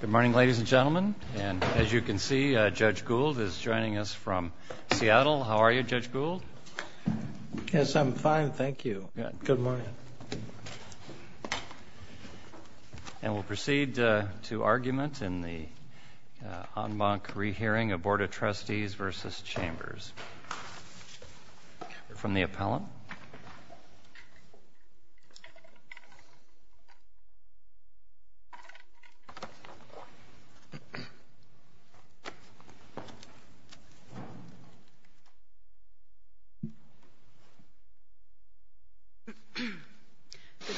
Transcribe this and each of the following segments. Good morning, ladies and gentlemen, and as you can see, Judge Gould is joining us from Seattle. How are you, Judge Gould? Yes, I'm fine, thank you. Good morning. And we'll proceed to argument in the en banc re-hearing of Board of Trustees versus Chambers. From the appellant. Good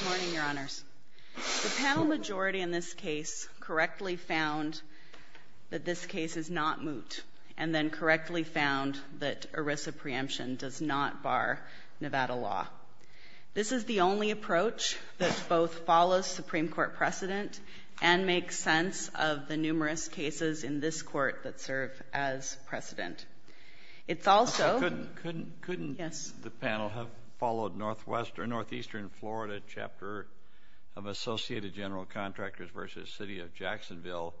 morning, Your Honors. The panel majority in this case correctly found that this case is not moot, and then correctly found that ERISA preemption does not bar Nevada law. This is the only approach that both follows Supreme Court precedent and makes sense of the numerous cases in this Court that serve as precedent. It's also- Couldn't the panel have followed Northeastern Florida Chapter of Associated General Contractors versus City of Jacksonville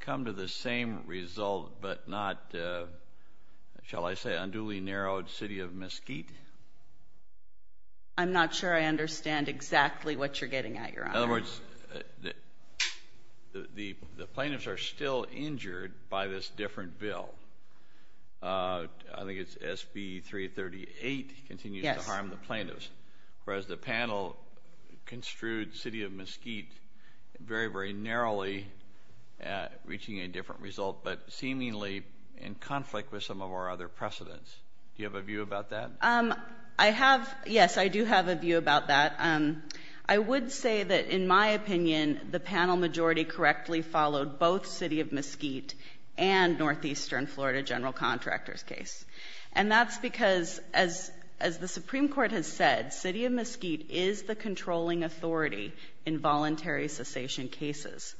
come to the same result, but not, shall I say, unduly narrowed City of Mesquite? I'm not sure I understand exactly what you're getting at, Your Honor. In other words, the plaintiffs are still injured by this different bill. I think it's SB 338 continues to harm the plaintiffs, whereas the panel construed City of Mesquite very, very narrowly reaching a different result, but seemingly in conflict with some of our other precedents. Do you have a view about that? I have. Yes, I do have a view about that. I would say that, in my opinion, the panel majority correctly followed both City of Mesquite and Northeastern Florida General Contractors case. And that's because, as the Supreme Court has said, City of Mesquite is the controlling authority in voluntary cessation cases.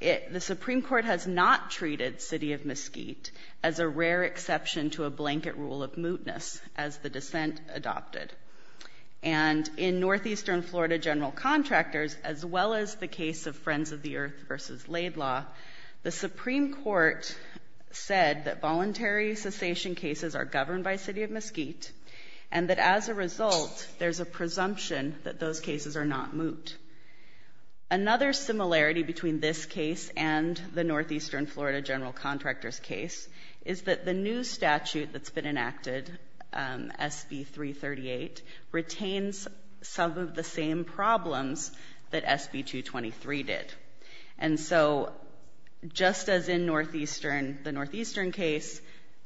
The Supreme Court has not treated City of Mesquite as a rare exception to a blanket rule of mootness, as the dissent adopted. And in Northeastern Florida General Contractors, as well as the case of Friends of the Earth versus Laidlaw, the Supreme Court said that voluntary cessation cases are governed by City of Mesquite, and that, as a result, there's a presumption that those cases are not moot. Another similarity between this case and the Northeastern Florida General Contractors case is that the new statute that's been enacted, SB-338, retains some of the same problems that SB-223 did. And so, just as in Northeastern, the Northeastern case,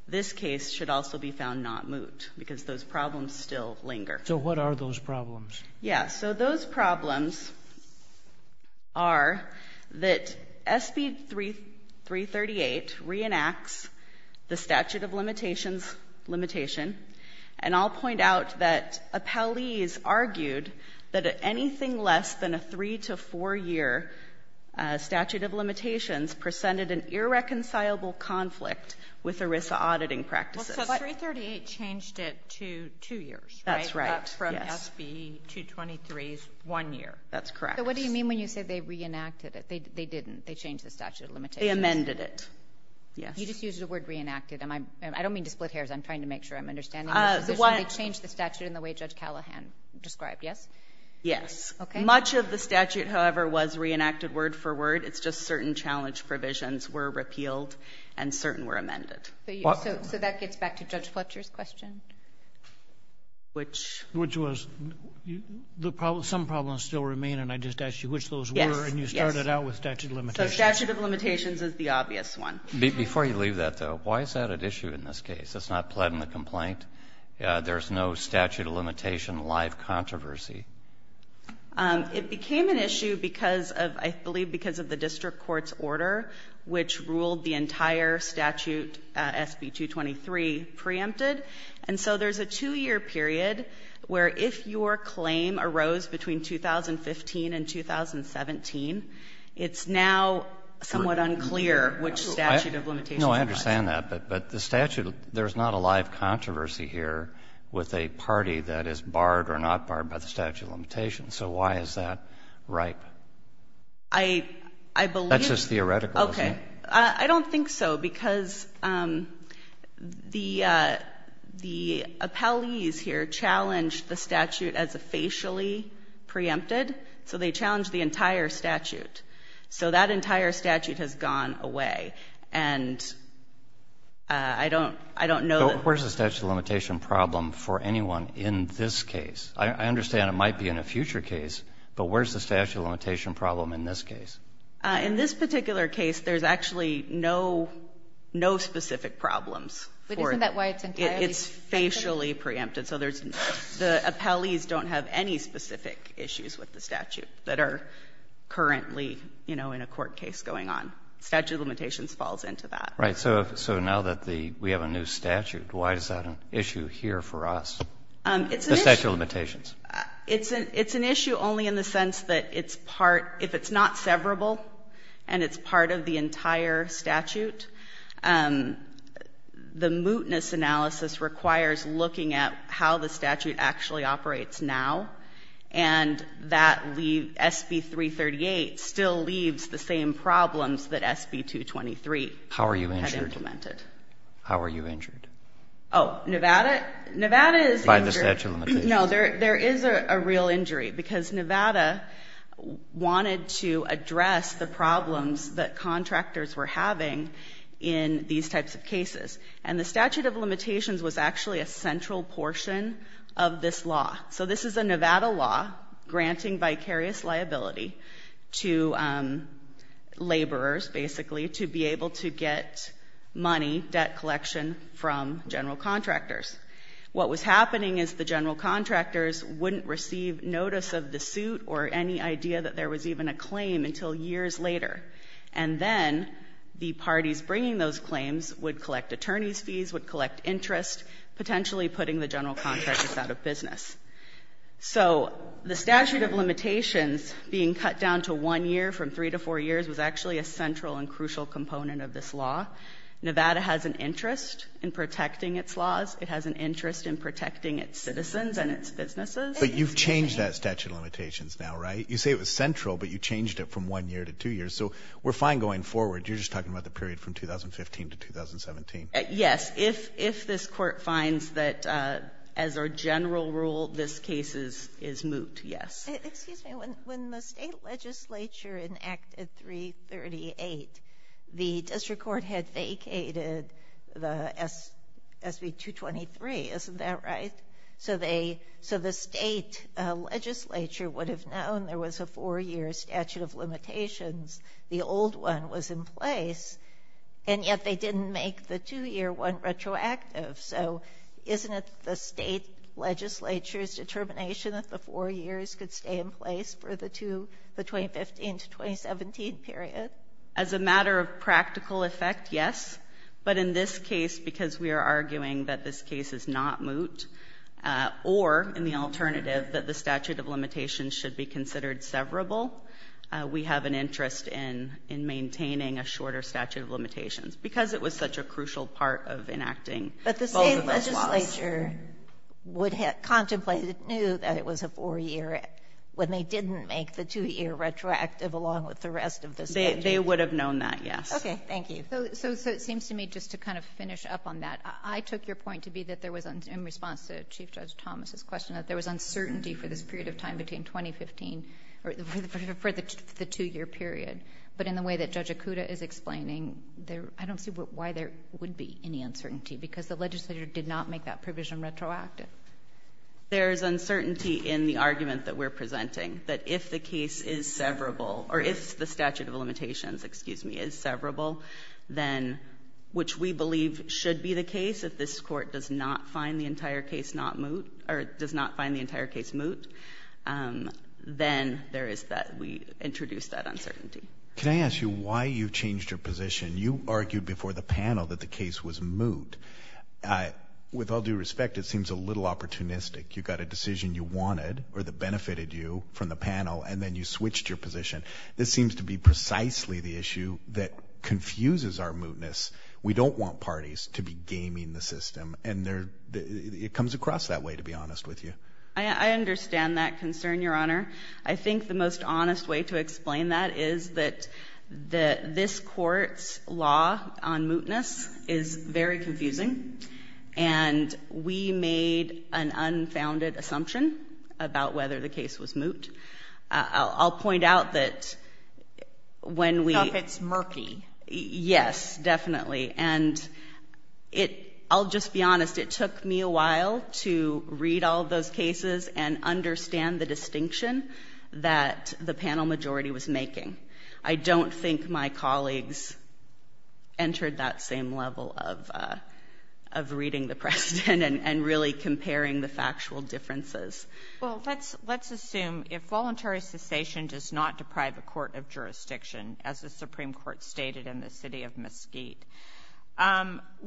this case should also be found not moot because those problems still linger. So what are those problems? Yeah, so those problems are that SB-338 re-enacts the statute of limitations limitation. And I'll point out that Apalis argued that anything less than a three to four year statute of limitations presented an irreconcilable conflict with ERISA auditing practices. Well, so 338 changed it to two years, right? That's right, yes. And SB-223 is one year. That's correct. So what do you mean when you say they re-enacted it? They didn't. They changed the statute of limitations. They amended it. Yes. You just used the word re-enacted. I don't mean to split hairs. I'm trying to make sure I'm understanding the position. They changed the statute in the way Judge Callahan described, yes? Yes. Much of the statute, however, was re-enacted word for word. It's just certain challenge provisions were repealed and certain were amended. So that gets back to Judge Fletcher's question. Which was? Some problems still remain and I just asked you which those were and you started out with statute of limitations. Yes. So statute of limitations is the obvious one. Before you leave that, though, why is that an issue in this case? It's not pled in the complaint. There's no statute of limitation live controversy. It became an issue because of, I believe, because of the district court's order, which ruled the entire statute SB-223 preempted. And so there's a two-year period where if your claim arose between 2015 and 2017, it's now somewhat unclear which statute of limitations. No, I understand that, but the statute, there's not a live controversy here with a party that is barred or not barred by the statute of limitations. So why is that ripe? I believe. That's just theoretical, isn't it? I don't think so because the appellees here challenged the statute as a facially preempted. So they challenged the entire statute. So that entire statute has gone away and I don't, I don't know. But where's the statute of limitation problem for anyone in this case? I understand it might be in a future case, but where's the statute of limitation problem in this case? In this particular case, there's actually no, no specific problems. But isn't that why it's entirely? It's facially preempted. So there's, the appellees don't have any specific issues with the statute that are currently, you know, in a court case going on. Statute of limitations falls into that. Right. So now that the, we have a new statute, why is that an issue here for us? It's an issue. The statute of limitations. It's an, it's an issue only in the sense that it's part, if it's not severable and it's part of the entire statute, the mootness analysis requires looking at how the statute actually operates now. And that leave SB-338 still leaves the same problems that SB-223 had implemented. How are you injured? How are you injured? By the statute of limitations. No, there, there is a real injury because Nevada wanted to address the problems that contractors were having in these types of cases. And the statute of limitations was actually a central portion of this law. So this is a Nevada law granting vicarious liability to laborers, basically, to be able to get money, debt collection from general contractors. What was happening is the general contractors wouldn't receive notice of the suit or any idea that there was even a claim until years later. And then the parties bringing those claims would collect attorney's fees, would collect interest, potentially putting the general contractors out of business. So the statute of limitations being cut down to one year from three to four years was actually a central and crucial component of this law. Nevada has an interest in protecting its laws. It has an interest in protecting its citizens and its businesses. But you've changed that statute of limitations now, right? You say it was central, but you changed it from one year to two years. So we're fine going forward. You're just talking about the period from 2015 to 2017. Yes, if this court finds that, as our general rule, this case is moot, yes. Excuse me. When the state legislature enacted 338, the district court had vacated the SB 223, isn't that right? So the state legislature would have known there was a four-year statute of limitations. The old one was in place, and yet they didn't make the two-year one retroactive. So isn't it the state legislature's determination that the four years could stay in place for the 2015 to 2017 period? As a matter of practical effect, yes. But in this case, because we are arguing that this case is not moot, or in the alternative that the statute of limitations should be considered severable, we have an interest in maintaining a shorter statute of limitations, because it was such a crucial part of enacting But the state legislature would have contemplated, knew that it was a four-year when they didn't make the two-year retroactive along with the rest of the statute. They would have known that, yes. Okay, thank you. So it seems to me, just to kind of finish up on that, I took your point to be that there was, in response to Chief Judge Thomas' question, that there was uncertainty for this period of time between 2015, for the two-year period. But in the way that Judge Okuda is explaining, I don't see why there would be any uncertainty, because the legislature did not make that provision retroactive. There's uncertainty in the argument that we're presenting, that if the case is severable, or if the statute of limitations, excuse me, is severable, then, which we believe should be the case, if this court does not find the entire case not moot, or does not find the entire case moot, then there is that, we introduce that uncertainty. Can I ask you why you changed your position? You argued before the panel that the case was moot. With all due respect, it seems a little opportunistic. You got a decision you wanted, or that benefited you from the panel, and then you switched your position. This seems to be precisely the issue that confuses our mootness. We don't want parties to be gaming the system, and it comes across that way, to be honest with you. I understand that concern, Your Honor. I think the most honest way to explain that is that this court's law on mootness is very confusing, and we made an unfounded assumption about whether the case was moot. I'll point out that when we- So if it's murky. Yes, definitely. And I'll just be honest. It took me a while to read all those cases and understand the distinction that the panel majority was making. I don't think my colleagues entered that same level of reading the precedent and really comparing the factual differences. Well, let's assume if voluntary cessation does not deprive a court of jurisdiction, as the Supreme Court stated in the City of Mesquite,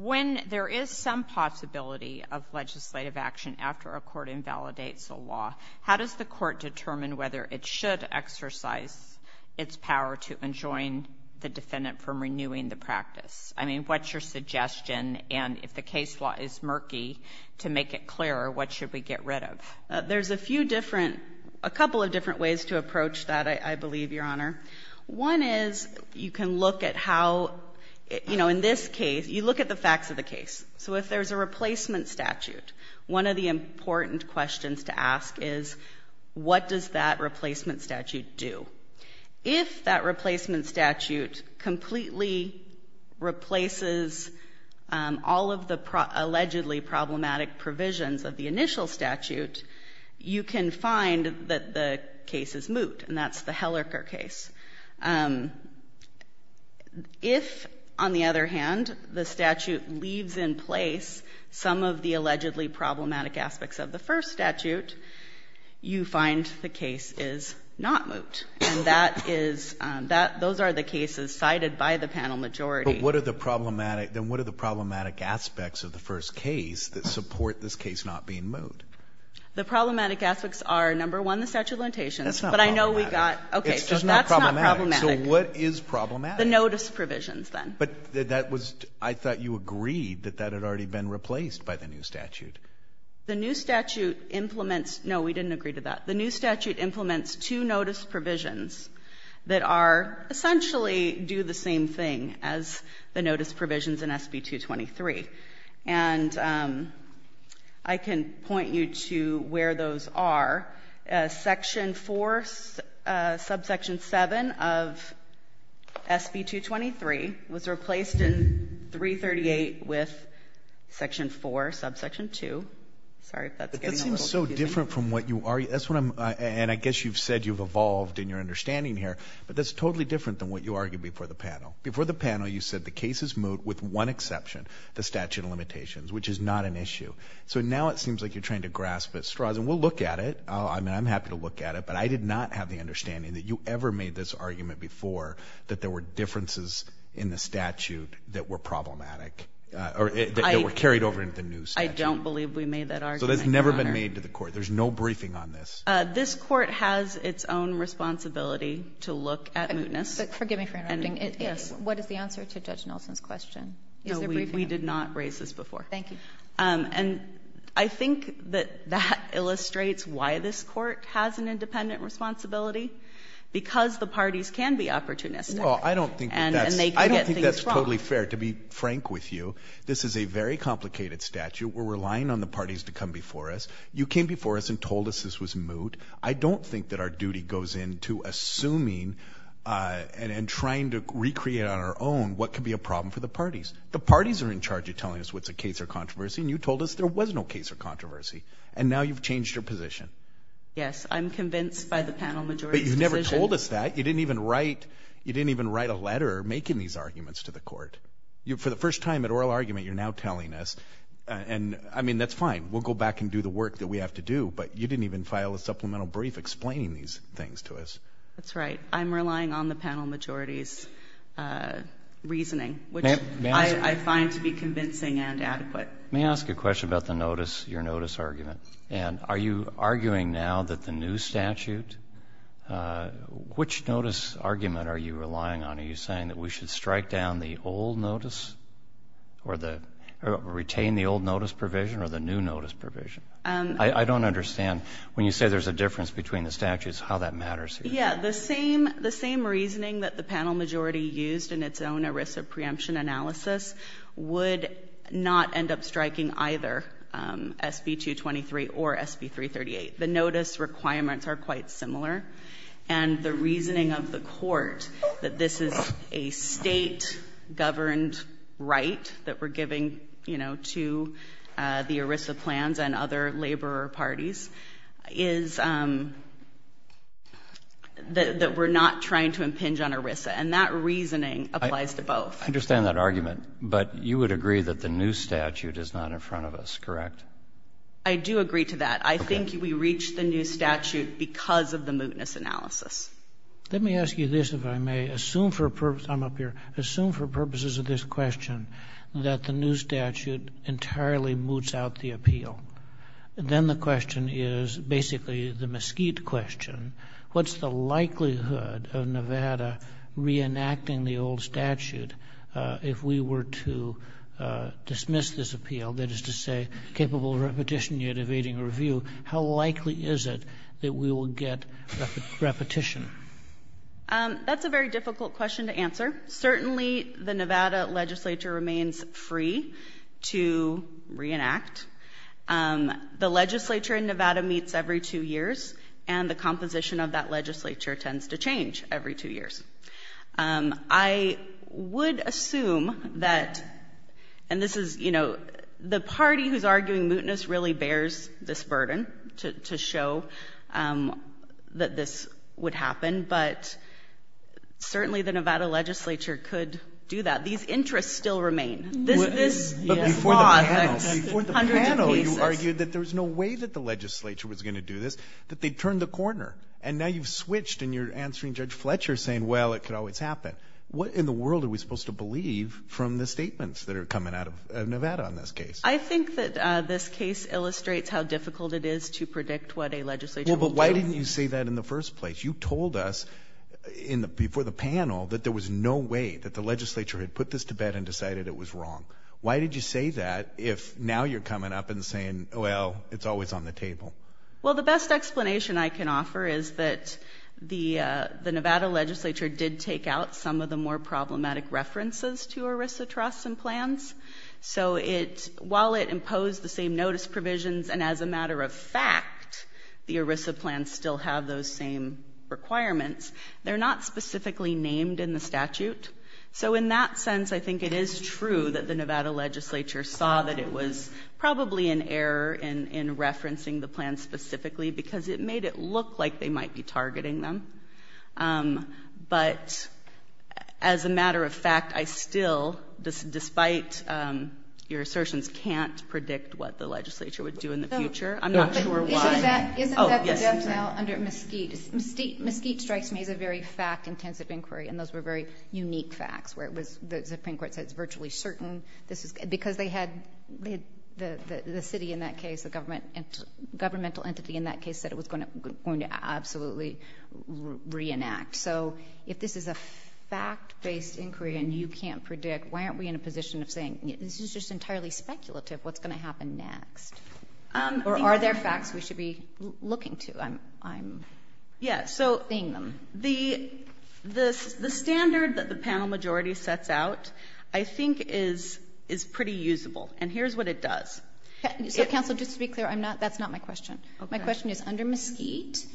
when there is some possibility of legislative action after a court invalidates a law, how does the court determine whether it should exercise its power to enjoin the defendant from renewing the practice? I mean, what's your suggestion? And if the case law is murky, to make it clearer, what should we get rid of? There's a few different- a couple of different ways to approach that, I believe, Your Honor. One is, you can look at how- you know, in this case, you look at the facts of the case. So if there's a replacement statute, one of the important questions to ask is, what does that replacement statute do? If that replacement statute completely replaces all of the allegedly problematic provisions of the initial statute, you can find that the case is moot, and that's the Hellercker case. If, on the other hand, the statute leaves in place some of the allegedly problematic aspects of the first statute, you find the case is not moot, and that is- those are the cases cited by the panel majority. But what are the problematic- then what are the problematic aspects of the first case that support this case not being moot? The problematic aspects are, number one, the statute of limitations. That's not problematic. But I know we got- okay. It's just not problematic. That's not problematic. So what is problematic? The notice provisions, then. But that was- I thought you agreed that that had already been replaced by the new statute. The new statute implements- no, we didn't agree to that. The new statute implements two notice provisions that are- essentially do the same thing as the notice provisions in SB 223. And I can point you to where those are. Section 4, subsection 7 of SB 223 was replaced in 338 with section 4, subsection 2. Sorry if that's getting a little confusing. But that seems so different from what you- that's what I'm- and I guess you've said you've evolved in your understanding here, but that's totally different than what you argued before the panel. Before the panel, you said the case is moot with one exception, the statute of limitations, which is not an issue. So now it seems like you're trying to grasp at straws. And we'll look at it. I mean, I'm happy to look at it. But I did not have the understanding that you ever made this argument before that there were differences in the statute that were problematic, or that were carried over into the new statute. I don't believe we made that argument, Your Honor. So that's never been made to the court. There's no briefing on this. This court has its own responsibility to look at mootness. Forgive me for interrupting. Yes. What is the answer to Judge Nelson's question? Is there briefing? No. We did not raise this before. Thank you. And I think that that illustrates why this court has an independent responsibility. Because the parties can be opportunistic. Well, I don't think that's- And they can get things wrong. I don't think that's totally fair. To be frank with you, this is a very complicated statute. We're relying on the parties to come before us. You came before us and told us this was moot. I don't think that our duty goes into assuming and trying to recreate on our own what could be a problem for the parties. The parties are in charge of telling us what's a case or controversy, and you told us there was no case or controversy. And now you've changed your position. Yes. I'm convinced by the panel majority's decision. But you never told us that. You didn't even write a letter making these arguments to the court. For the first time at oral argument, you're now telling us. And I mean, that's fine. We'll go back and do the work that we have to do. But you didn't even file a supplemental brief explaining these things to us. That's right. I'm relying on the panel majority's reasoning, which I find to be convincing and adequate. May I ask a question about the notice, your notice argument? And are you arguing now that the new statute, which notice argument are you relying on? Are you saying that we should strike down the old notice or retain the old notice provision or the new notice provision? I don't understand. When you say there's a difference between the statutes, how that matters here. Yeah. The same reasoning that the panel majority used in its own ERISA preemption analysis would not end up striking either SB 223 or SB 338. The notice requirements are quite similar. And the reasoning of the court that this is a state-governed right that we're giving, you know, to the ERISA plans and other labor parties is that we're not trying to impinge on ERISA. And that reasoning applies to both. I understand that argument, but you would agree that the new statute is not in front of us, correct? I do agree to that. I think we reached the new statute because of the mootness analysis. Let me ask you this, if I may, assume for purpose, I'm up here, assume for purposes of this question that the new statute entirely moots out the appeal, then the question is basically the mesquite question, what's the likelihood of Nevada re-enacting the old statute if we were to dismiss this appeal, that is to say, capable of repetition yet evading review, how likely is it that we will get repetition? That's a very difficult question to answer. Certainly, the Nevada legislature remains free to re-enact. The legislature in Nevada meets every two years, and the composition of that legislature tends to change every two years. I would assume that, and this is, you know, the party who's arguing mootness really bears this burden to show that this would happen, but certainly the Nevada legislature could do that. These interests still remain. But before the panel, you argued that there was no way that the legislature was going to do this, that they'd turn the corner, and now you've switched, and you're answering Judge Fletcher saying, well, it could always happen. What in the world are we supposed to believe from the statements that are coming out of Nevada on this case? I think that this case illustrates how difficult it is to predict what a legislature will do. Well, but why didn't you say that in the first place? You told us before the panel that there was no way that the legislature had put this to bed and decided it was wrong. Why did you say that if now you're coming up and saying, well, it's always on the table? Well, the best explanation I can offer is that the Nevada legislature did take out some of the more problematic references to ERISA trusts and plans. So while it imposed the same notice provisions, and as a matter of fact, the ERISA plans still have those same requirements, they're not specifically named in the statute. So in that sense, I think it is true that the Nevada legislature saw that it was probably an error in referencing the plan specifically because it made it look like they might be targeting them. But as a matter of fact, I still, despite your assertions, can't predict what the legislature would do in the future. I'm not sure why. Isn't that the death knell under Mesquite? Mesquite strikes me as a very fact-intensive inquiry, and those were very unique facts where the Supreme Court said it's virtually certain. Because the city in that case, the governmental entity in that case, said it was going to absolutely reenact. So if this is a fact-based inquiry and you can't predict, why aren't we in a position of saying, this is just entirely speculative, what's going to happen next? Or are there facts we should be looking to? I'm seeing them. The standard that the panel majority sets out, I think, is pretty usable. And here's what it does. So, counsel, just to be clear, that's not my question. My question is, under Mesquite,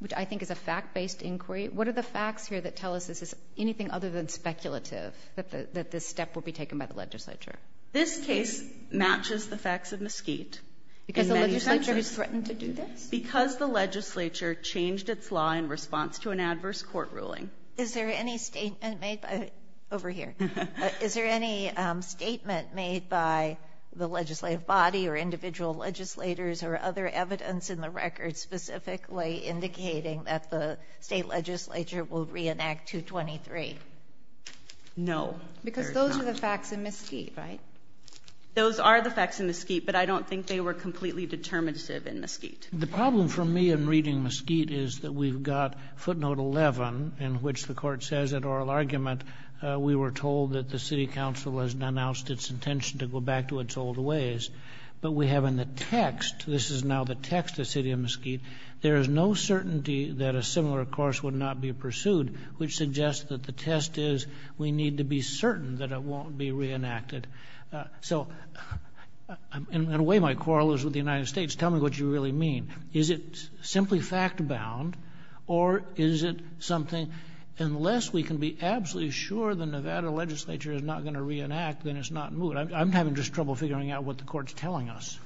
which I think is a fact-based inquiry, what are the facts here that tell us this is anything other than speculative, that this step will be taken by the legislature? This case matches the facts of Mesquite. Because the legislature threatened to do this? Because the legislature changed its law in response to an adverse court ruling. Is there any statement made by, over here, is there any statement made by the legislative body or individual legislators or other evidence in the record specifically indicating that the state legislature will reenact 223? No. There's not. Because those are the facts in Mesquite, right? Those are the facts in Mesquite, but I don't think they were completely determinative in Mesquite. The problem for me in reading Mesquite is that we've got footnote 11, in which the court says in oral argument, we were told that the city council has announced its intention to go back to its old ways. But we have in the text, this is now the text of City of Mesquite, there is no certainty that a similar course would not be pursued, which suggests that the test is we need to be certain that it won't be reenacted. So in a way, my quarrel is with the United States. Tell me what you really mean. Is it simply fact-bound, or is it something, unless we can be absolutely sure the Nevada legislature is not going to reenact, then it's not moving. I'm having just trouble figuring out what the court's telling us.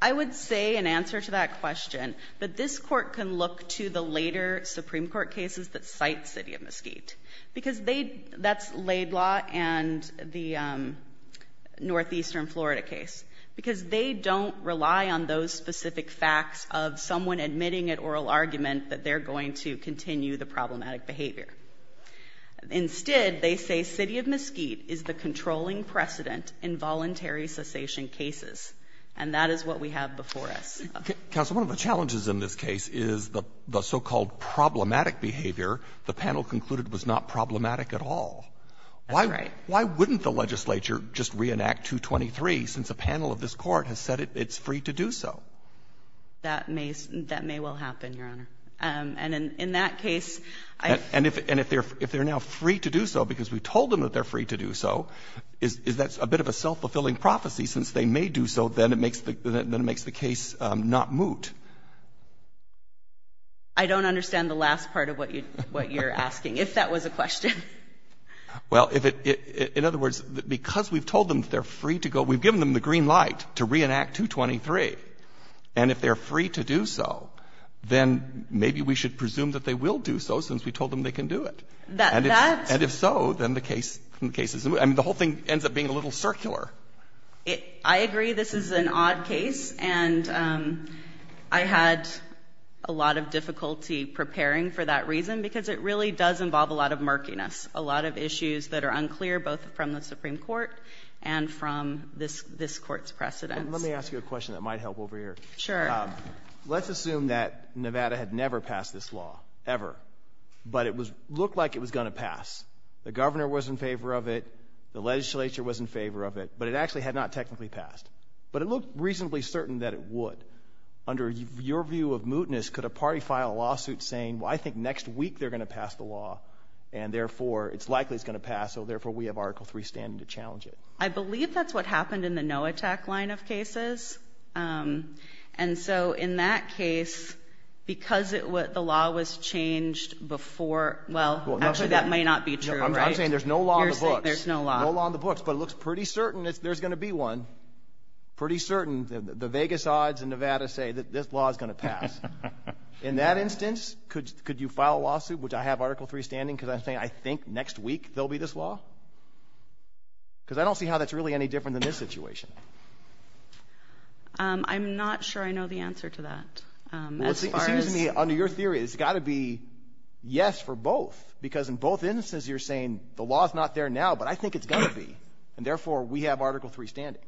I would say in answer to that question, that this court can look to the later Supreme Court cases that cite City of Mesquite. Because they, that's Laidlaw and the Northeastern Florida case. Because they don't rely on those specific facts of someone admitting at oral argument that they're going to continue the problematic behavior. Instead, they say City of Mesquite is the controlling precedent in voluntary cessation cases. And that is what we have before us. Counsel, one of the challenges in this case is the so-called problematic behavior the panel concluded was not problematic at all. That's right. Why wouldn't the legislature just reenact 223 since a panel of this court has said it's free to do so? That may well happen, Your Honor. And in that case, I've. And if they're now free to do so because we told them that they're free to do so, is that a bit of a self-fulfilling prophecy since they may do so, then it makes the case not moot. I don't understand the last part of what you're asking, if that was a question. Well, if it, in other words, because we've told them they're free to go, we've given them the green light to reenact 223. And if they're free to do so, then maybe we should presume that they will do so since we told them they can do it. That. And if so, then the case is, I mean, the whole thing ends up being a little circular. I agree. This is an odd case. And I had a lot of difficulty preparing for that reason because it really does involve a lot of murkiness, a lot of issues that are unclear both from the Supreme Court and from this court's precedents. Let me ask you a question that might help over here. Sure. Let's assume that Nevada had never passed this law, ever, but it looked like it was going to pass. The governor was in favor of it, the legislature was in favor of it, but it actually had not technically passed. But it looked reasonably certain that it would. Under your view of mootness, could a party file a lawsuit saying, well, I think next week they're going to pass the law, and therefore, it's likely it's going to pass, so therefore we have Article III standing to challenge it? I believe that's what happened in the no-attack line of cases. And so in that case, because the law was changed before, well, actually that may not be true, right? I'm saying there's no law in the books. There's no law. No law in the books. But it looks pretty certain there's going to be one. Pretty certain. The Vegas odds in Nevada say that this law is going to pass. In that instance, could you file a lawsuit, would I have Article III standing because I'm saying I think next week there'll be this law? Because I don't see how that's really any different than this situation. I'm not sure I know the answer to that. Well, it seems to me, under your theory, it's got to be yes for both, because in both instances you're saying the law's not there now, but I think it's going to be, and therefore, we have Article III standing.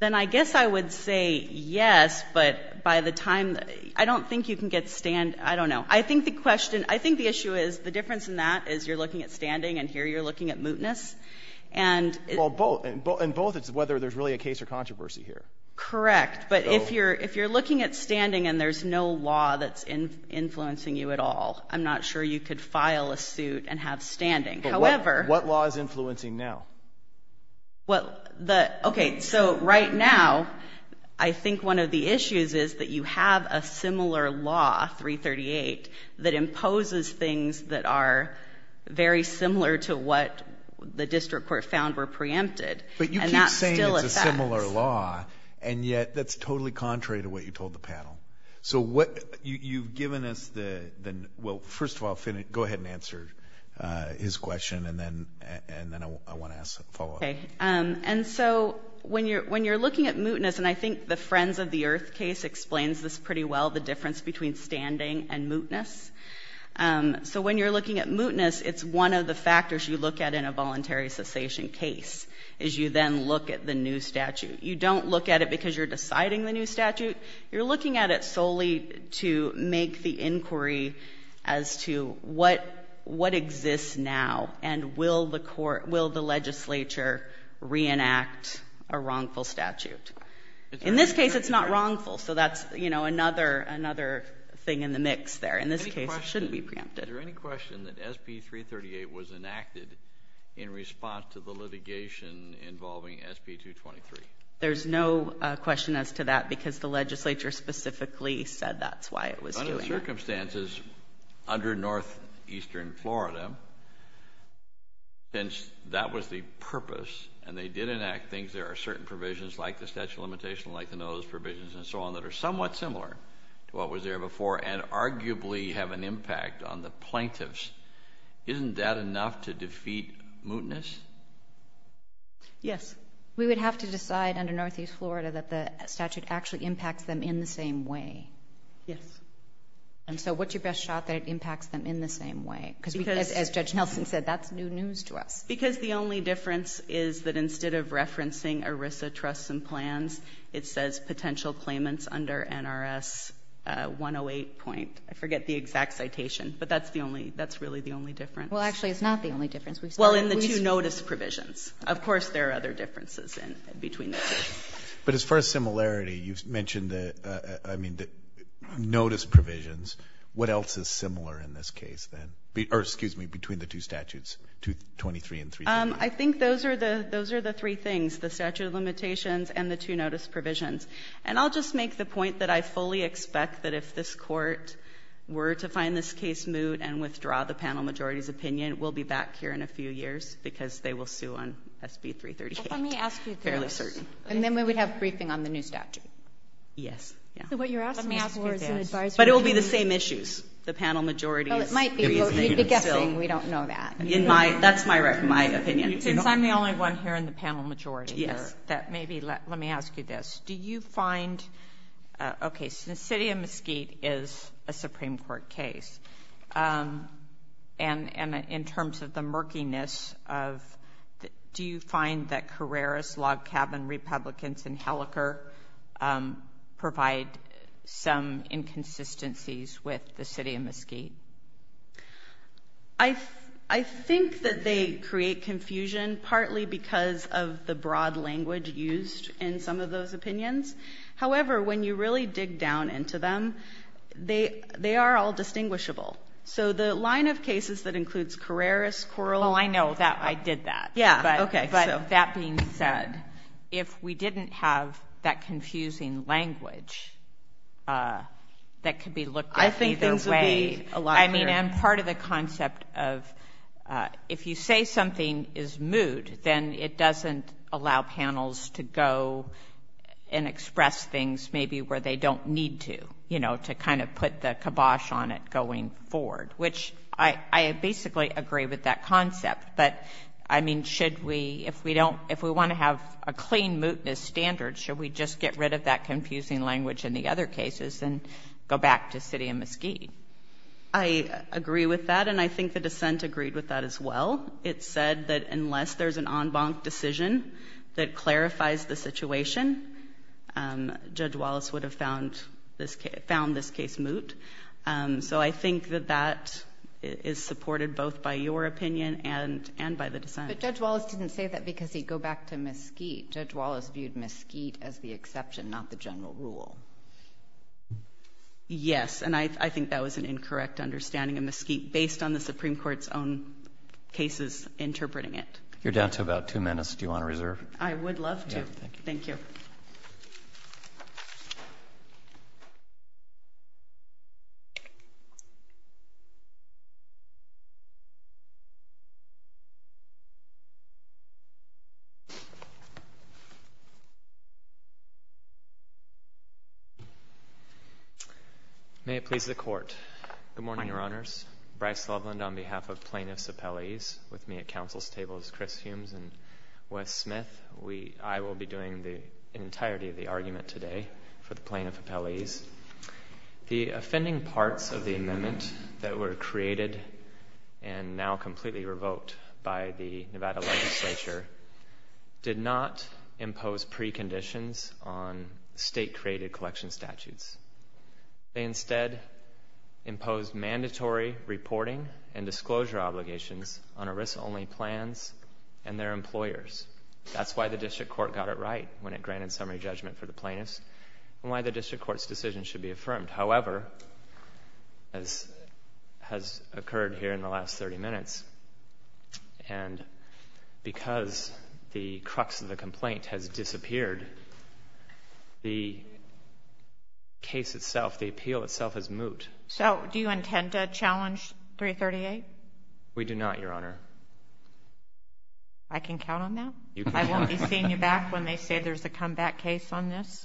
Then I guess I would say yes, but by the time, I don't think you can get stand, I don't know. I think the issue is, the difference in that is you're looking at standing, and here you're looking at mootness, and it's... Well, in both it's whether there's really a case or controversy here. Correct. But if you're looking at standing and there's no law that's influencing you at all, I'm not sure you could file a suit and have standing. However... What law is influencing now? Well, okay, so right now, I think one of the issues is that you have a similar law, 338, that imposes things that are very similar to what the district court found were preempted, and that still affects... But you keep saying it's a similar law, and yet that's totally contrary to what you told the panel. So, you've given us the, well, first of all, go ahead and answer his question, and then I want to ask a follow-up. And so, when you're looking at mootness, and I think the Friends of the Earth case explains this pretty well, the difference between standing and mootness. So when you're looking at mootness, it's one of the factors you look at in a voluntary cessation case, is you then look at the new statute. You don't look at it because you're deciding the new statute, you're looking at it solely to make the inquiry as to what exists now, and will the legislature reenact a wrongful statute? In this case, it's not wrongful, so that's another thing in the mix there. In this case, it shouldn't be preempted. Is there any question that SB 338 was enacted in response to the litigation involving SB 223? There's no question as to that, because the legislature specifically said that's why it was doing it. Under the circumstances, under northeastern Florida, since that was the purpose, and they did enact things, there are certain provisions, like the statute of limitations, like the notice provisions, and so on, that are somewhat similar to what was there before, and arguably have an impact on the plaintiffs, isn't that enough to defeat mootness? Yes. We would have to decide under northeast Florida that the statute actually impacts them in the same way. Yes. And so, what's your best shot that it impacts them in the same way? As Judge Nelson said, that's new news to us. Because the only difference is that instead of referencing ERISA trusts and plans, it says potential claimants under NRS 108 point, I forget the exact citation, but that's really the only difference. Well, actually, it's not the only difference. Well, in the two notice provisions. Of course, there are other differences between the two. But as far as similarity, you've mentioned the notice provisions. What else is similar in this case, then? Or excuse me, between the two statutes, 223 and 323? I think those are the three things, the statute of limitations and the two notice provisions. And I'll just make the point that I fully expect that if this court were to find this case moot and withdraw the panel majority's opinion, we'll be back here in a few years because they will sue on SB 338. Well, let me ask you this. Fairly certain. And then we would have briefing on the new statute. Yes. Yeah. So what you're asking for is an advisory. Let me ask you this. But it will be the same issues. The panel majority. Oh, it might be. We'll be guessing. We don't know that. In my, that's my opinion. Since I'm the only one here in the panel majority that maybe, let me ask you this. Do you find, okay, so the City of Mesquite is a Supreme Court case. And, and in terms of the murkiness of, do you find that Carreras, Log Cabin, Republicans and Hellecker provide some inconsistencies with the City of Mesquite? I think that they create confusion partly because of the broad language used in some of those opinions. However, when you really dig down into them, they, they are all distinguishable. So the line of cases that includes Carreras, Coral. Well, I know that I did that. Yeah. Okay. But that being said, if we didn't have that confusing language that could be looked at either way. I think things would be a lot clearer. I mean, and part of the concept of if you say something is moot, then it doesn't allow panels to go and express things maybe where they don't need to, you know, to kind of put the kibosh on it going forward, which I, I basically agree with that concept. But I mean, should we, if we don't, if we want to have a clean mootness standard, should we just get rid of that confusing language in the other cases and go back to City of Mesquite? I agree with that. And I think the dissent agreed with that as well. It said that unless there's an en banc decision that clarifies the situation, Judge Wallace would have found this case, found this case moot. So I think that that is supported both by your opinion and, and by the dissent. But Judge Wallace didn't say that because he'd go back to Mesquite. Judge Wallace viewed Mesquite as the exception, not the general rule. Yes. And I think that was an incorrect understanding of Mesquite based on the Supreme Court's own cases interpreting it. You're down to about two minutes. Do you want to reserve? I would love to. Thank you. May it please the court. Good morning, your honors. Bryce Loveland on behalf of plaintiff's appellees with me at council's table is Chris Humes and Wes Smith. We, I will be doing the entirety of the argument today for the plaintiff appellees. The offending parts of the amendment that were created and now completely revoked by the Nevada legislature did not impose preconditions on state created collection statutes. They instead imposed mandatory reporting and disclosure obligations on a risk only plans and their employers. That's why the district court got it right when it granted summary judgment for the plaintiffs and why the district court's decision should be affirmed. However, as has occurred here in the last 30 minutes and because the crux of the complaint has disappeared, the case itself, the appeal itself is moot. So do you intend to challenge 338? We do not, your honor. I can count on that. I won't be seeing you back when they say there's a comeback case on this.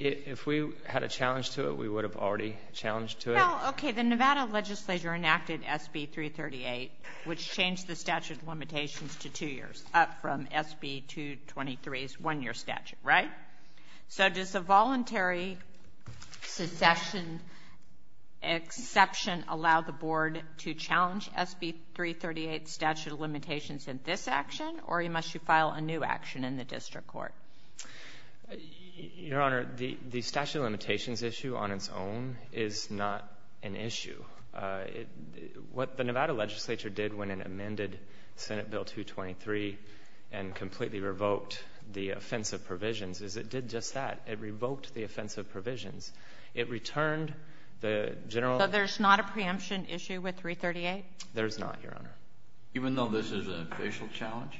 If we had a challenge to it, we would have already challenged to it. Okay. The Nevada legislature enacted SB 338, which changed the statute of limitations to two years up from SB 223's one-year statute, right? So does the voluntary succession exception allow the board to challenge SB 338 statute of limitations in this action or must you file a new action in the district court? Your honor, the statute of limitations issue on its own is not an issue. What the Nevada legislature did when it amended Senate Bill 223 and completely revoked the offensive provisions is it did just that. It revoked the offensive provisions. It returned the general... So there's not a preemption issue with 338? There's not, your honor. Even though this is a facial challenge?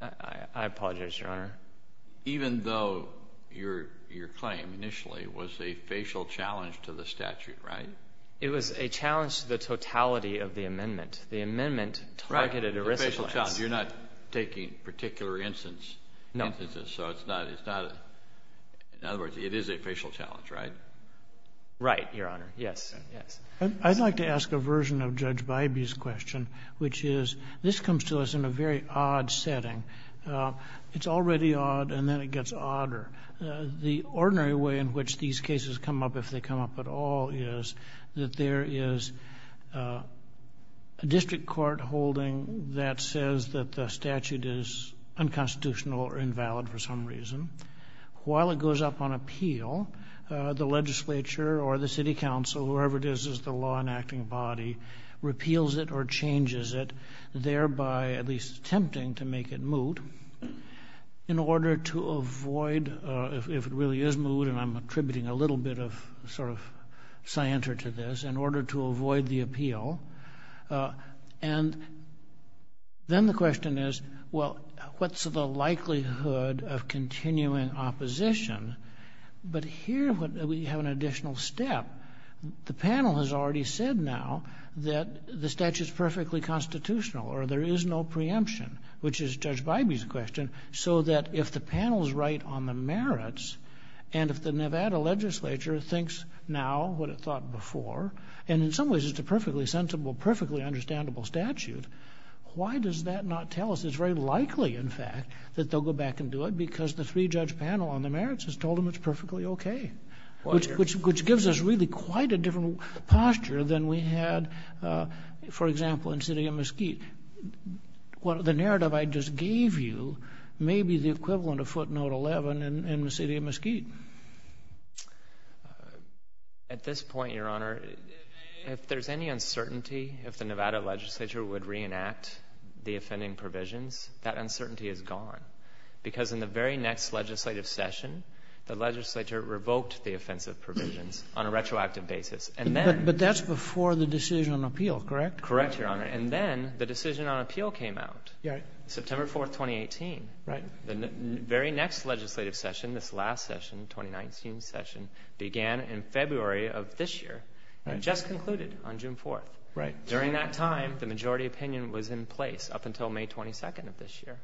I apologize, your honor. Even though your claim initially was a facial challenge to the statute, right? It was a challenge to the totality of the amendment. The amendment targeted... Right. A facial challenge. You're not taking particular instances. No. So it's not a... In other words, it is a facial challenge, right? Right, your honor. Yes. Yes. I'd like to ask a version of Judge Bybee's question, which is this comes to us in a very odd setting. It's already odd, and then it gets odder. The ordinary way in which these cases come up, if they come up at all, is that there is a district court holding that says that the statute is unconstitutional or invalid for some reason. While it goes up on appeal, the legislature or the city council, whoever it is, is the law-enacting body, repeals it or changes it, thereby at least attempting to make it moot in order to avoid... if it really is moot, and I'm attributing a little bit of sort of scienter to this, in order to avoid the appeal. And then the question is, well, what's the likelihood of continuing opposition? But here we have an additional step. The panel has already said now that the statute's perfectly constitutional or there is no preemption, which is Judge Bybee's question, so that if the panel's right on the merits, and if the Nevada legislature thinks now what it thought before, and in some ways it's a perfectly sensible, perfectly understandable statute, why does that not tell us it's very likely, in fact, that they'll go back and do it because the three-judge panel on the merits has told them it's perfectly okay, which gives us really quite a different posture than we had, for example, in the city of Mesquite. The narrative I just gave you may be the equivalent of footnote 11 in the city of Mesquite. At this point, Your Honor, if there's any uncertainty, if the Nevada legislature would reenact the offending provisions, that uncertainty is gone, because in the very next legislative session, the legislature revoked the offensive provisions on a retroactive basis. But that's before the decision on appeal, correct? Correct, Your Honor. And then the decision on appeal came out, September 4, 2018. The very next legislative session, this last session, 2019 session, began in February of this year and just concluded on June 4. During that time, the majority opinion was in place up until May 22 of this year.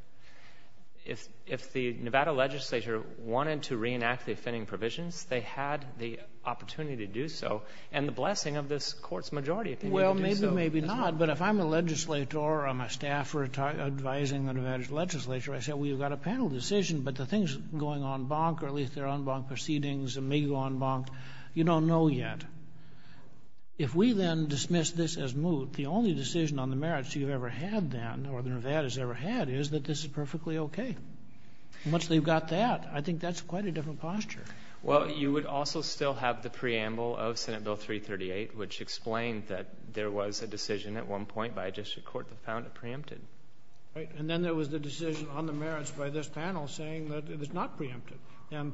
If the Nevada legislature wanted to reenact the offending provisions, they had the opportunity to do so, and the blessing of this Court's majority opinion to do so. Well, maybe, maybe not, but if I'm a legislator or I'm a staffer advising the Nevada legislature, I say, well, you've got a panel decision, but the thing's going en banc, or at least they're en banc proceedings, they may go en banc. You don't know yet. If we then dismiss this as moot, the only decision on the merits you've ever had then, or the Nevada's ever had, is that this is perfectly okay. Once they've got that, I think that's quite a different posture. Well, you would also still have the preamble of Senate Bill 338, which explained that there was a decision at one point by a district court that found it preempted. And then there was the decision on the merits by this panel saying that it was not preempted. And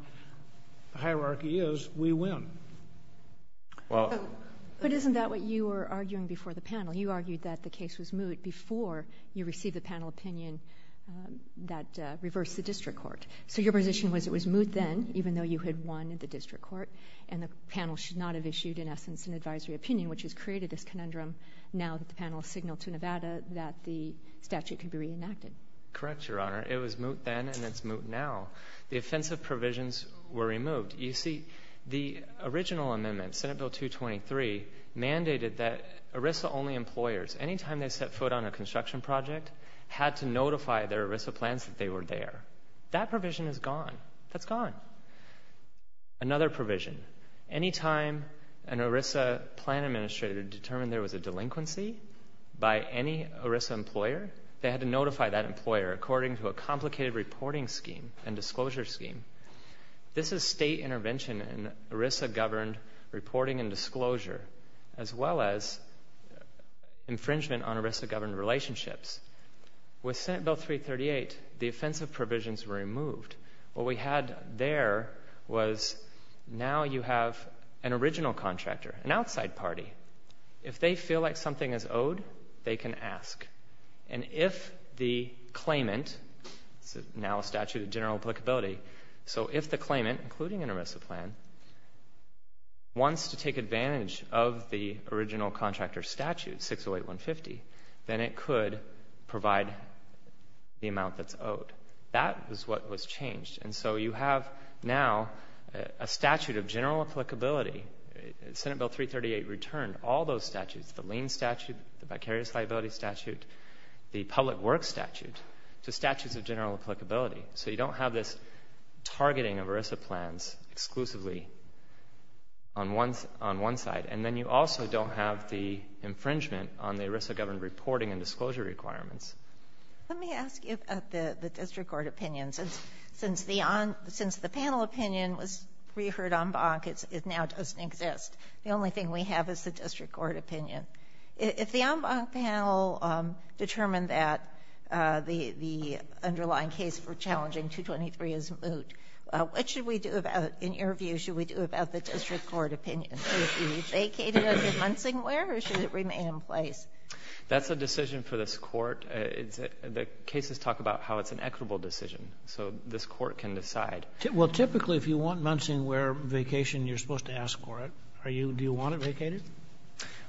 the hierarchy is, we win. But isn't that what you were arguing before the panel? You argued that the case was moot before you received the panel opinion that reversed the district court. So your position was it was moot then, even though you had won at the district court, and the panel should not have issued, in essence, an advisory opinion, which has created this conundrum now that the panel has signaled to Nevada that the statute could be reenacted. Correct, Your Honor. It was moot then, and it's moot now. The offensive provisions were removed. You see, the original amendment, Senate Bill 223, mandated that ERISA-only employers, any time they set foot on a construction project, had to notify their ERISA plans that they were there. That provision is gone. That's gone. Another provision, any time an ERISA plan administrator determined there was a delinquency by any ERISA employer, they had to notify that employer according to a complicated reporting scheme and disclosure scheme. This is state intervention in ERISA-governed reporting and disclosure, as well as infringement on ERISA-governed relationships. With Senate Bill 338, the offensive provisions were removed. What we had there was now you have an original contractor, an outside party. If they feel like something is owed, they can ask. And if the claimant, now a statute of general applicability, so if the claimant, including an ERISA plan, wants to take advantage of the original contractor statute, 608-150, then it could provide the amount that's owed. That is what was changed. And so you have now a statute of general applicability. Senate Bill 338 returned all those statutes, the lien statute, the vicarious liability statute, the public works statute, to statutes of general applicability. So you don't have this targeting of ERISA plans exclusively on one side. And then you also don't have the infringement on the ERISA-governed reporting and disclosure requirements. Let me ask you about the district court opinions. Since the panel opinion was reheard en banc, it now doesn't exist. The only thing we have is the district court opinion. If the en banc panel determined that the underlying case for challenging 223 is moot, what should we do about, in your view, should we do about the district court opinion? Should it be vacated under Munsingware or should it remain in place? That's a decision for this court. The cases talk about how it's an equitable decision. So this court can decide. Well, typically, if you want Munsingware vacation, you're supposed to ask for it. Do you want it vacated?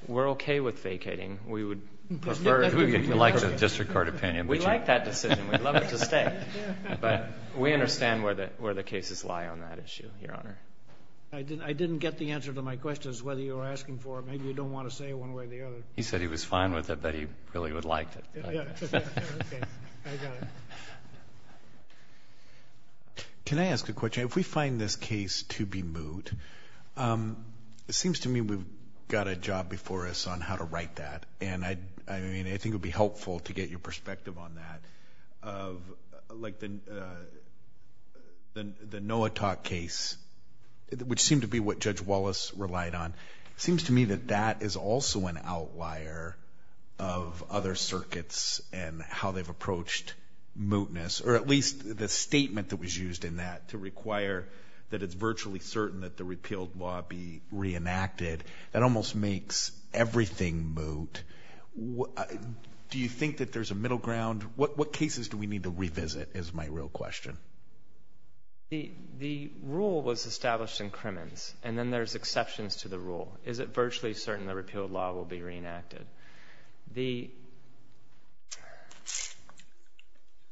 We're okay with vacating. We would prefer... Who would like the district court opinion? We like that decision. We'd love it to stay. But we understand where the cases lie on that issue, Your Honor. I didn't get the answer to my question as to whether you were asking for it. Maybe you don't want to say it one way or the other. He said he was fine with it, but he really would like it. Yeah. Okay. I got it. Can I ask a question? If we find this case to be moot, it seems to me we've got a job before us on how to write that. And I think it would be helpful to get your perspective on that. Like the NOAA talk case, which seemed to be what Judge Wallace relied on, it seems to me that that is also an outlier of other circuits and how they've approached mootness, or at least the statement that was used in that to require that it's virtually certain that the repealed law be reenacted, that almost makes everything moot. Do you think that there's a middle ground? What cases do we need to revisit, is my real question? The rule was established in Crimmins, and then there's exceptions to the rule. Is it virtually certain the repealed law will be reenacted? The...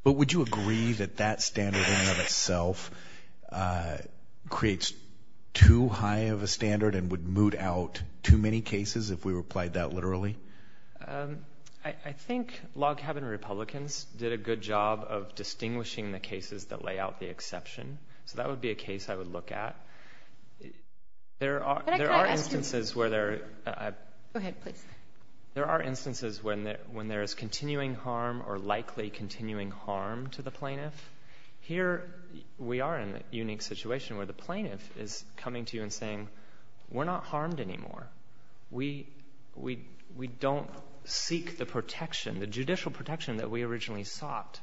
But would you agree that that standard in and of itself creates too high of a standard and would moot out too many cases if we replied that literally? I think log cabin Republicans did a good job of distinguishing the cases that lay out the exception. So that would be a case I would look at. There are instances where there... Go ahead, please. There are instances when there is continuing harm or likely continuing harm to the plaintiff. Here we are in a unique situation where the plaintiff is coming to you and saying, we're not harmed anymore. We don't seek the protection, the judicial protection that we originally sought.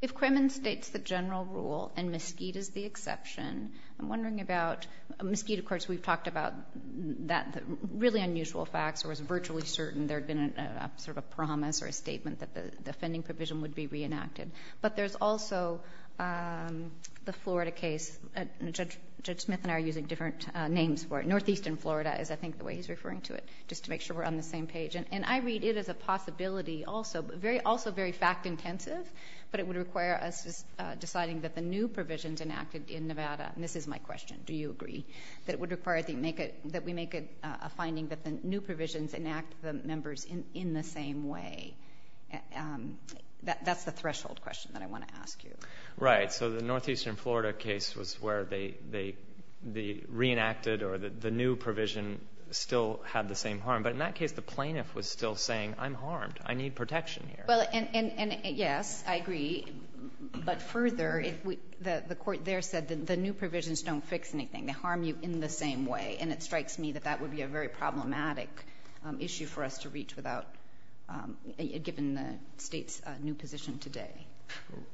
If Crimmins states the general rule and Mesquite is the exception, I'm wondering about... Mesquite, of course, we've talked about that really unusual facts or is virtually certain there had been a sort of promise or a statement that the offending provision would be reenacted. But there's also the Florida case, Judge Smith and I are using different names for it. Northeastern Florida is, I think, the way he's referring to it, just to make sure we're on the same page. And I read it as a possibility also, but also very fact-intensive. But it would require us deciding that the new provisions enacted in Nevada, and this is my question, do you agree, that it would require that we make a finding that the new provisions enact the members in the same way. That's the threshold question that I want to ask you. Right. So the Northeastern Florida case was where they reenacted or the new provision still had the same harm. But in that case, the plaintiff was still saying, I'm harmed, I need protection here. Well, and yes, I agree. But further, the court there said that the new provisions don't fix anything, they harm you in the same way, and it strikes me that that would be a very problematic issue for us to reach without, given the State's new position today.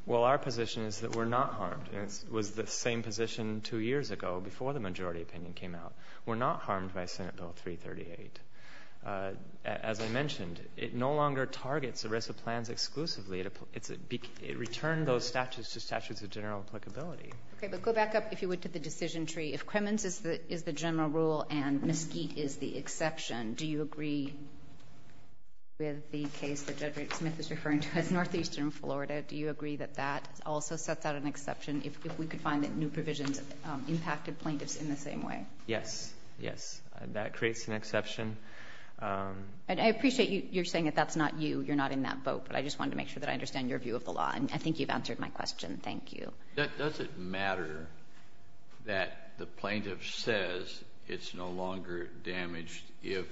Well, our position is that we're not harmed. And it was the same position two years ago, before the majority opinion came out. We're not harmed by Senate Bill 338. And as I mentioned, it no longer targets arrest of plans exclusively, it returned those statutes to statutes of general applicability. Okay, but go back up, if you would, to the decision tree. If Cremins is the general rule and Mesquite is the exception, do you agree with the case that Judge Rick Smith is referring to as Northeastern Florida, do you agree that that also sets out an exception, if we could find that new provisions impacted plaintiffs in the same way? Yes, yes. That creates an exception. And I appreciate you're saying that that's not you, you're not in that vote, but I just wanted to make sure that I understand your view of the law, and I think you've answered my question. Thank you. Does it matter that the plaintiff says it's no longer damaged if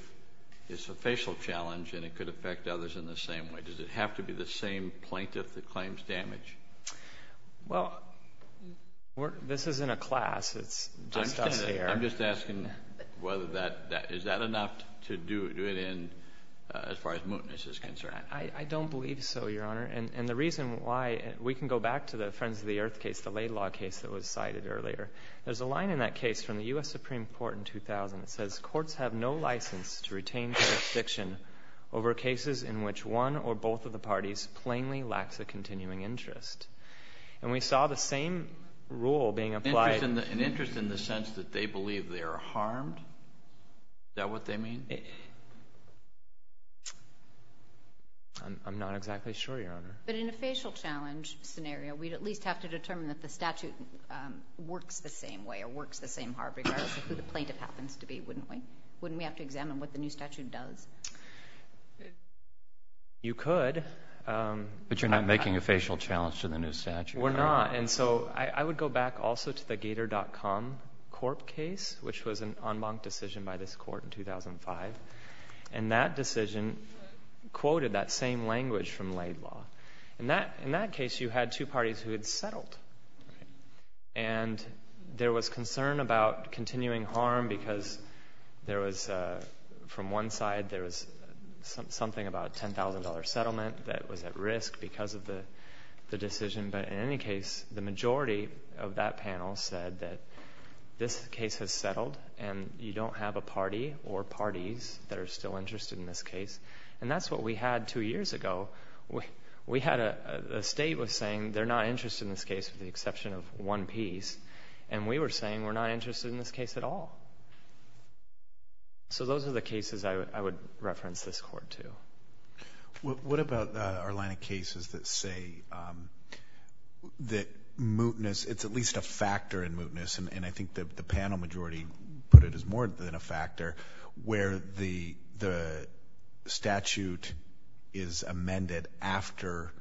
it's a facial challenge and it could affect others in the same way? Does it have to be the same plaintiff that claims damage? Well, this isn't a class, it's just us here. I'm just asking whether that, is that enough to do it in, as far as mootness is concerned? I don't believe so, Your Honor, and the reason why, we can go back to the Friends of the Earth case, the Laidlaw case that was cited earlier. There's a line in that case from the U.S. Supreme Court in 2000 that says, courts have no license to retain jurisdiction over cases in which one or both of the parties plainly lacks a continuing interest. And we saw the same rule being applied. An interest in the sense that they believe they are harmed? Is that what they mean? I'm not exactly sure, Your Honor. But in a facial challenge scenario, we'd at least have to determine that the statute works the same way or works the same hard regardless of who the plaintiff happens to be, wouldn't we? Wouldn't we have to examine what the new statute does? You could. But you're not making a facial challenge to the new statute, are you? We're not. And so, I would go back also to the Gator.com Corp case, which was an en banc decision by this court in 2005. And that decision quoted that same language from Laidlaw. In that case, you had two parties who had settled. And there was concern about continuing harm because there was, from one side, there was something about a $10,000 settlement that was at risk because of the decision. But in any case, the majority of that panel said that this case has settled and you don't have a party or parties that are still interested in this case. And that's what we had two years ago. We had a state was saying they're not interested in this case with the exception of one piece. And we were saying we're not interested in this case at all. So those are the cases I would reference this court to. What about our line of cases that say that mootness, it's at least a factor in mootness, and I think the panel majority put it as more than a factor, where the statute is amended after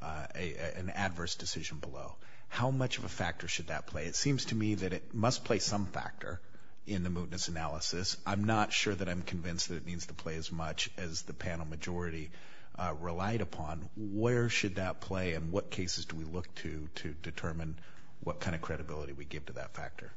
an adverse decision below. How much of a factor should that play? It seems to me that it must play some factor in the mootness analysis. I'm not sure that I'm convinced that it needs to play as much as the panel majority relied upon. Where should that play and what cases do we look to to determine what kind of credibility we give to that factor?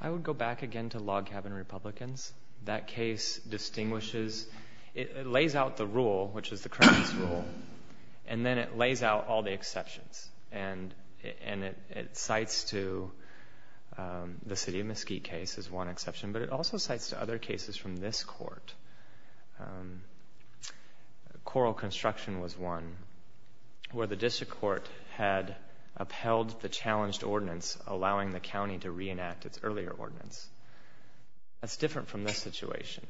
I would go back again to log cabin Republicans. That case distinguishes, it lays out the rule, which is the Crown's rule, and then it lays out all the exceptions. And it cites to the City of Mesquite case as one exception, but it also cites to other cases from this court. Coral Construction was one where the district court had upheld the challenged ordinance allowing the county to reenact its earlier ordinance. That's different from this situation,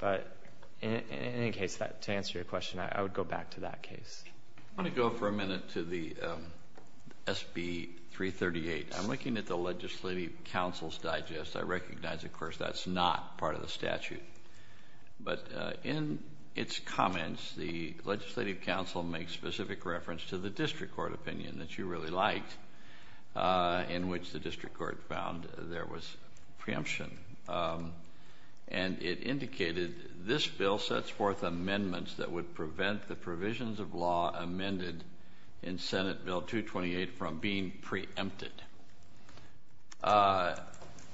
but in any case, to answer your question, I would go back to that case. I want to go for a minute to the SB 338. I'm looking at the Legislative Council's digest. I recognize, of course, that's not part of the statute, but in its comments, the Legislative Council makes specific reference to the district court opinion that you really liked, in which case the district court found there was preemption. And it indicated, this bill sets forth amendments that would prevent the provisions of law amended in Senate Bill 228 from being preempted.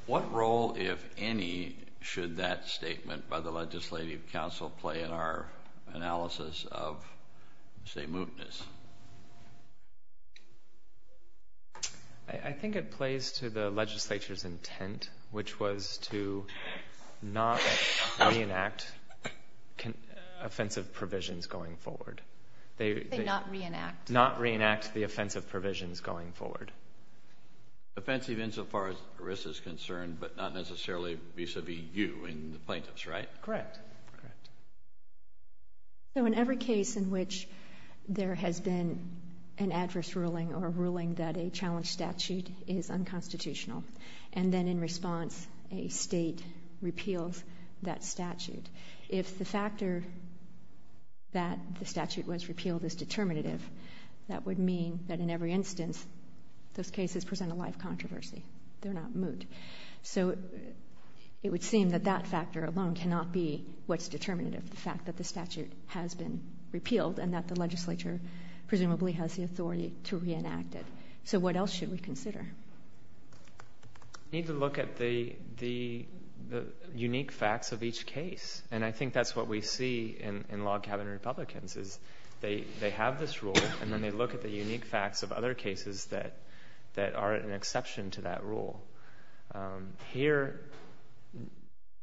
What role, if any, should that statement by the Legislative Council play in our analysis of, say, mootness? I think it plays to the Legislature's intent, which was to not reenact offensive provisions going forward. They not reenact? Not reenact the offensive provisions going forward. Offensive insofar as risk is concerned, but not necessarily vis-a-vis you and the plaintiffs, right? Correct. So in every case in which there has been an adverse ruling or a ruling that a challenge statute is unconstitutional, and then in response, a state repeals that statute, if the factor that the statute was repealed is determinative, that would mean that in every instance, those cases present a life controversy. They're not moot. So it would seem that that factor alone cannot be what's determinative, the fact that the statute has been repealed and that the Legislature presumably has the authority to reenact it. So what else should we consider? Need to look at the unique facts of each case. And I think that's what we see in log cabin Republicans, is they have this rule, and then they look at the unique facts of other cases that are an exception to that rule. Here,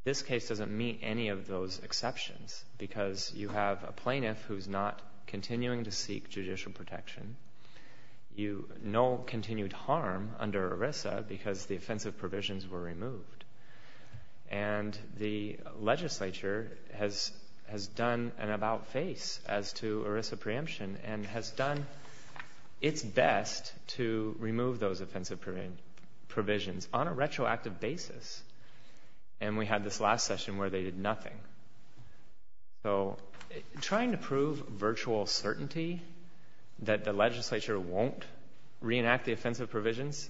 this case doesn't meet any of those exceptions, because you have a plaintiff who's not continuing to seek judicial protection. You know continued harm under ERISA because the offensive provisions were removed. And the Legislature has done an about-face as to ERISA preemption and has done its best to remove those offensive provisions on a retroactive basis. And we had this last session where they did nothing. So trying to prove virtual certainty that the Legislature won't reenact the offensive provisions,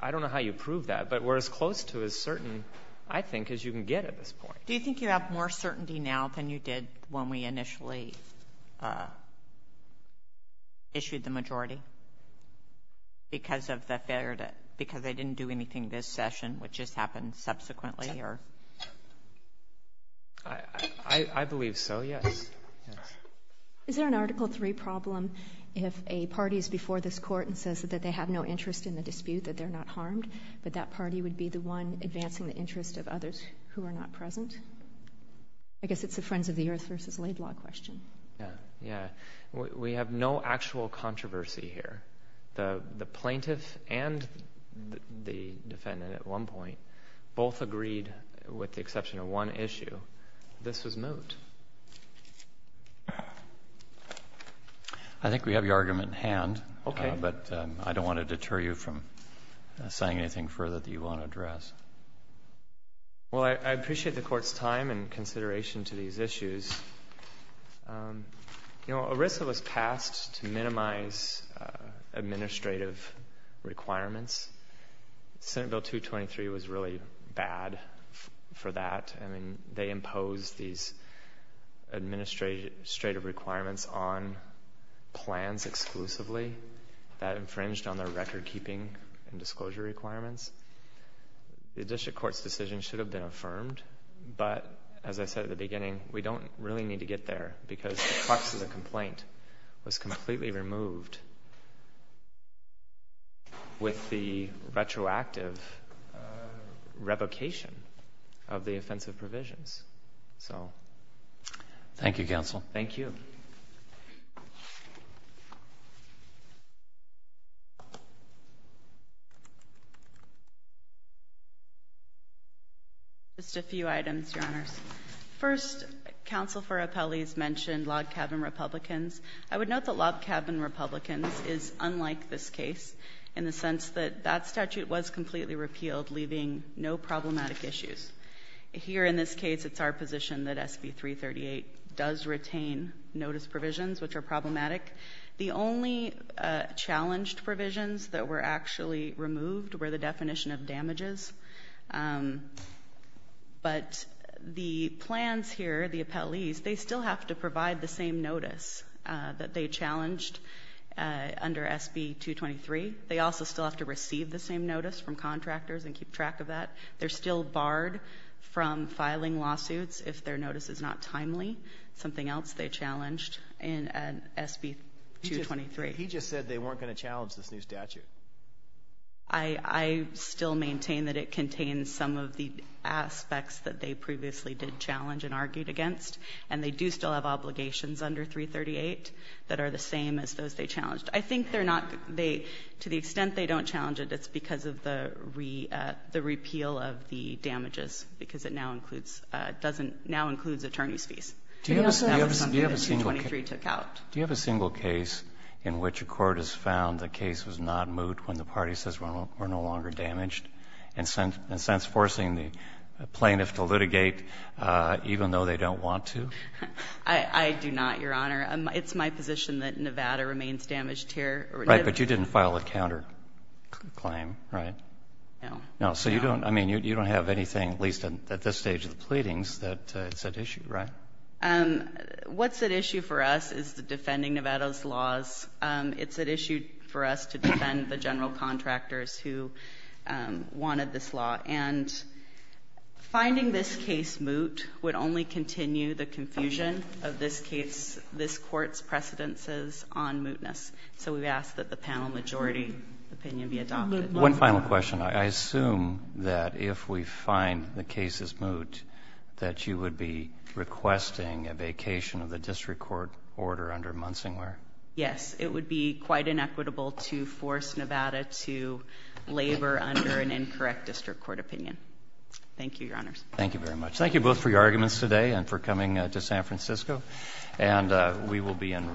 I don't know how you prove that, but we're as close to as certain, I think, as you can get at this point. Do you think you have more certainty now than you did when we initially issued the majority? Because of the failure to, because they didn't do anything this session, which just happened subsequently or? I believe so, yes. Is there an Article III problem if a party is before this court and says that they have no interest in the dispute, that they're not harmed, but that party would be the one advancing the interest of others who are not present? I guess it's a Friends of the Earth versus Laidlaw question. We have no actual controversy here. The plaintiff and the defendant at one point both agreed, with the exception of one issue, this was moot. I think we have your argument in hand, but I don't want to deter you from saying anything further that you want to address. Well, I appreciate the Court's time and consideration to these issues. You know, ERISA was passed to minimize administrative requirements. Senate Bill 223 was really bad for that. I mean, they imposed these administrative requirements on plans exclusively that infringed on their record-keeping and disclosure requirements. The District Court's decision should have been affirmed, but as I said at the beginning, we don't really need to get there because the crux of the complaint was completely removed with the retroactive revocation of the offensive provisions. Thank you, Counsel. Thank you. Just a few items, Your Honors. First, Counsel for Appellees mentioned log cabin Republicans. I would note that log cabin Republicans is unlike this case in the sense that that statute was completely repealed, leaving no problematic issues. Here in this case, it's our position that SB 338 does retain notice provisions which are problematic. The only challenged provisions that were actually removed were the definition of damages. But the plans here, the appellees, they still have to provide the same notice that they challenged under SB 223. They also still have to receive the same notice from contractors and keep track of that. They're still barred from filing lawsuits if their notice is not timely, something else they challenged in SB 223. He just said they weren't going to challenge this new statute. I still maintain that it contains some of the aspects that they previously did challenge and argued against. And they do still have obligations under 338 that are the same as those they challenged. I think they're not, to the extent they don't challenge it, it's because of the repeal of the damages because it now includes attorney's fees. That was something that 223 took out. Do you have a single case in which a court has found the case was not moved when the party says we're no longer damaged? And since forcing the plaintiff to litigate even though they don't want to? I do not, Your Honor. It's my position that Nevada remains damaged here. Right, but you didn't file a counterclaim, right? No. No. So you don't have anything, at least at this stage of the pleadings, that's at issue, right? No. What's at issue for us is defending Nevada's laws. It's at issue for us to defend the general contractors who wanted this law. And finding this case moot would only continue the confusion of this case, this court's precedences on mootness. So we ask that the panel majority opinion be adopted. One final question. I assume that if we find the case is moot that you would be requesting a vacation of the district court order under Munsinglar? Yes. It would be quite inequitable to force Nevada to labor under an incorrect district court opinion. Thank you, Your Honors. Thank you very much. Thank you both for your arguments today and for coming to San Francisco. And we will be in recess.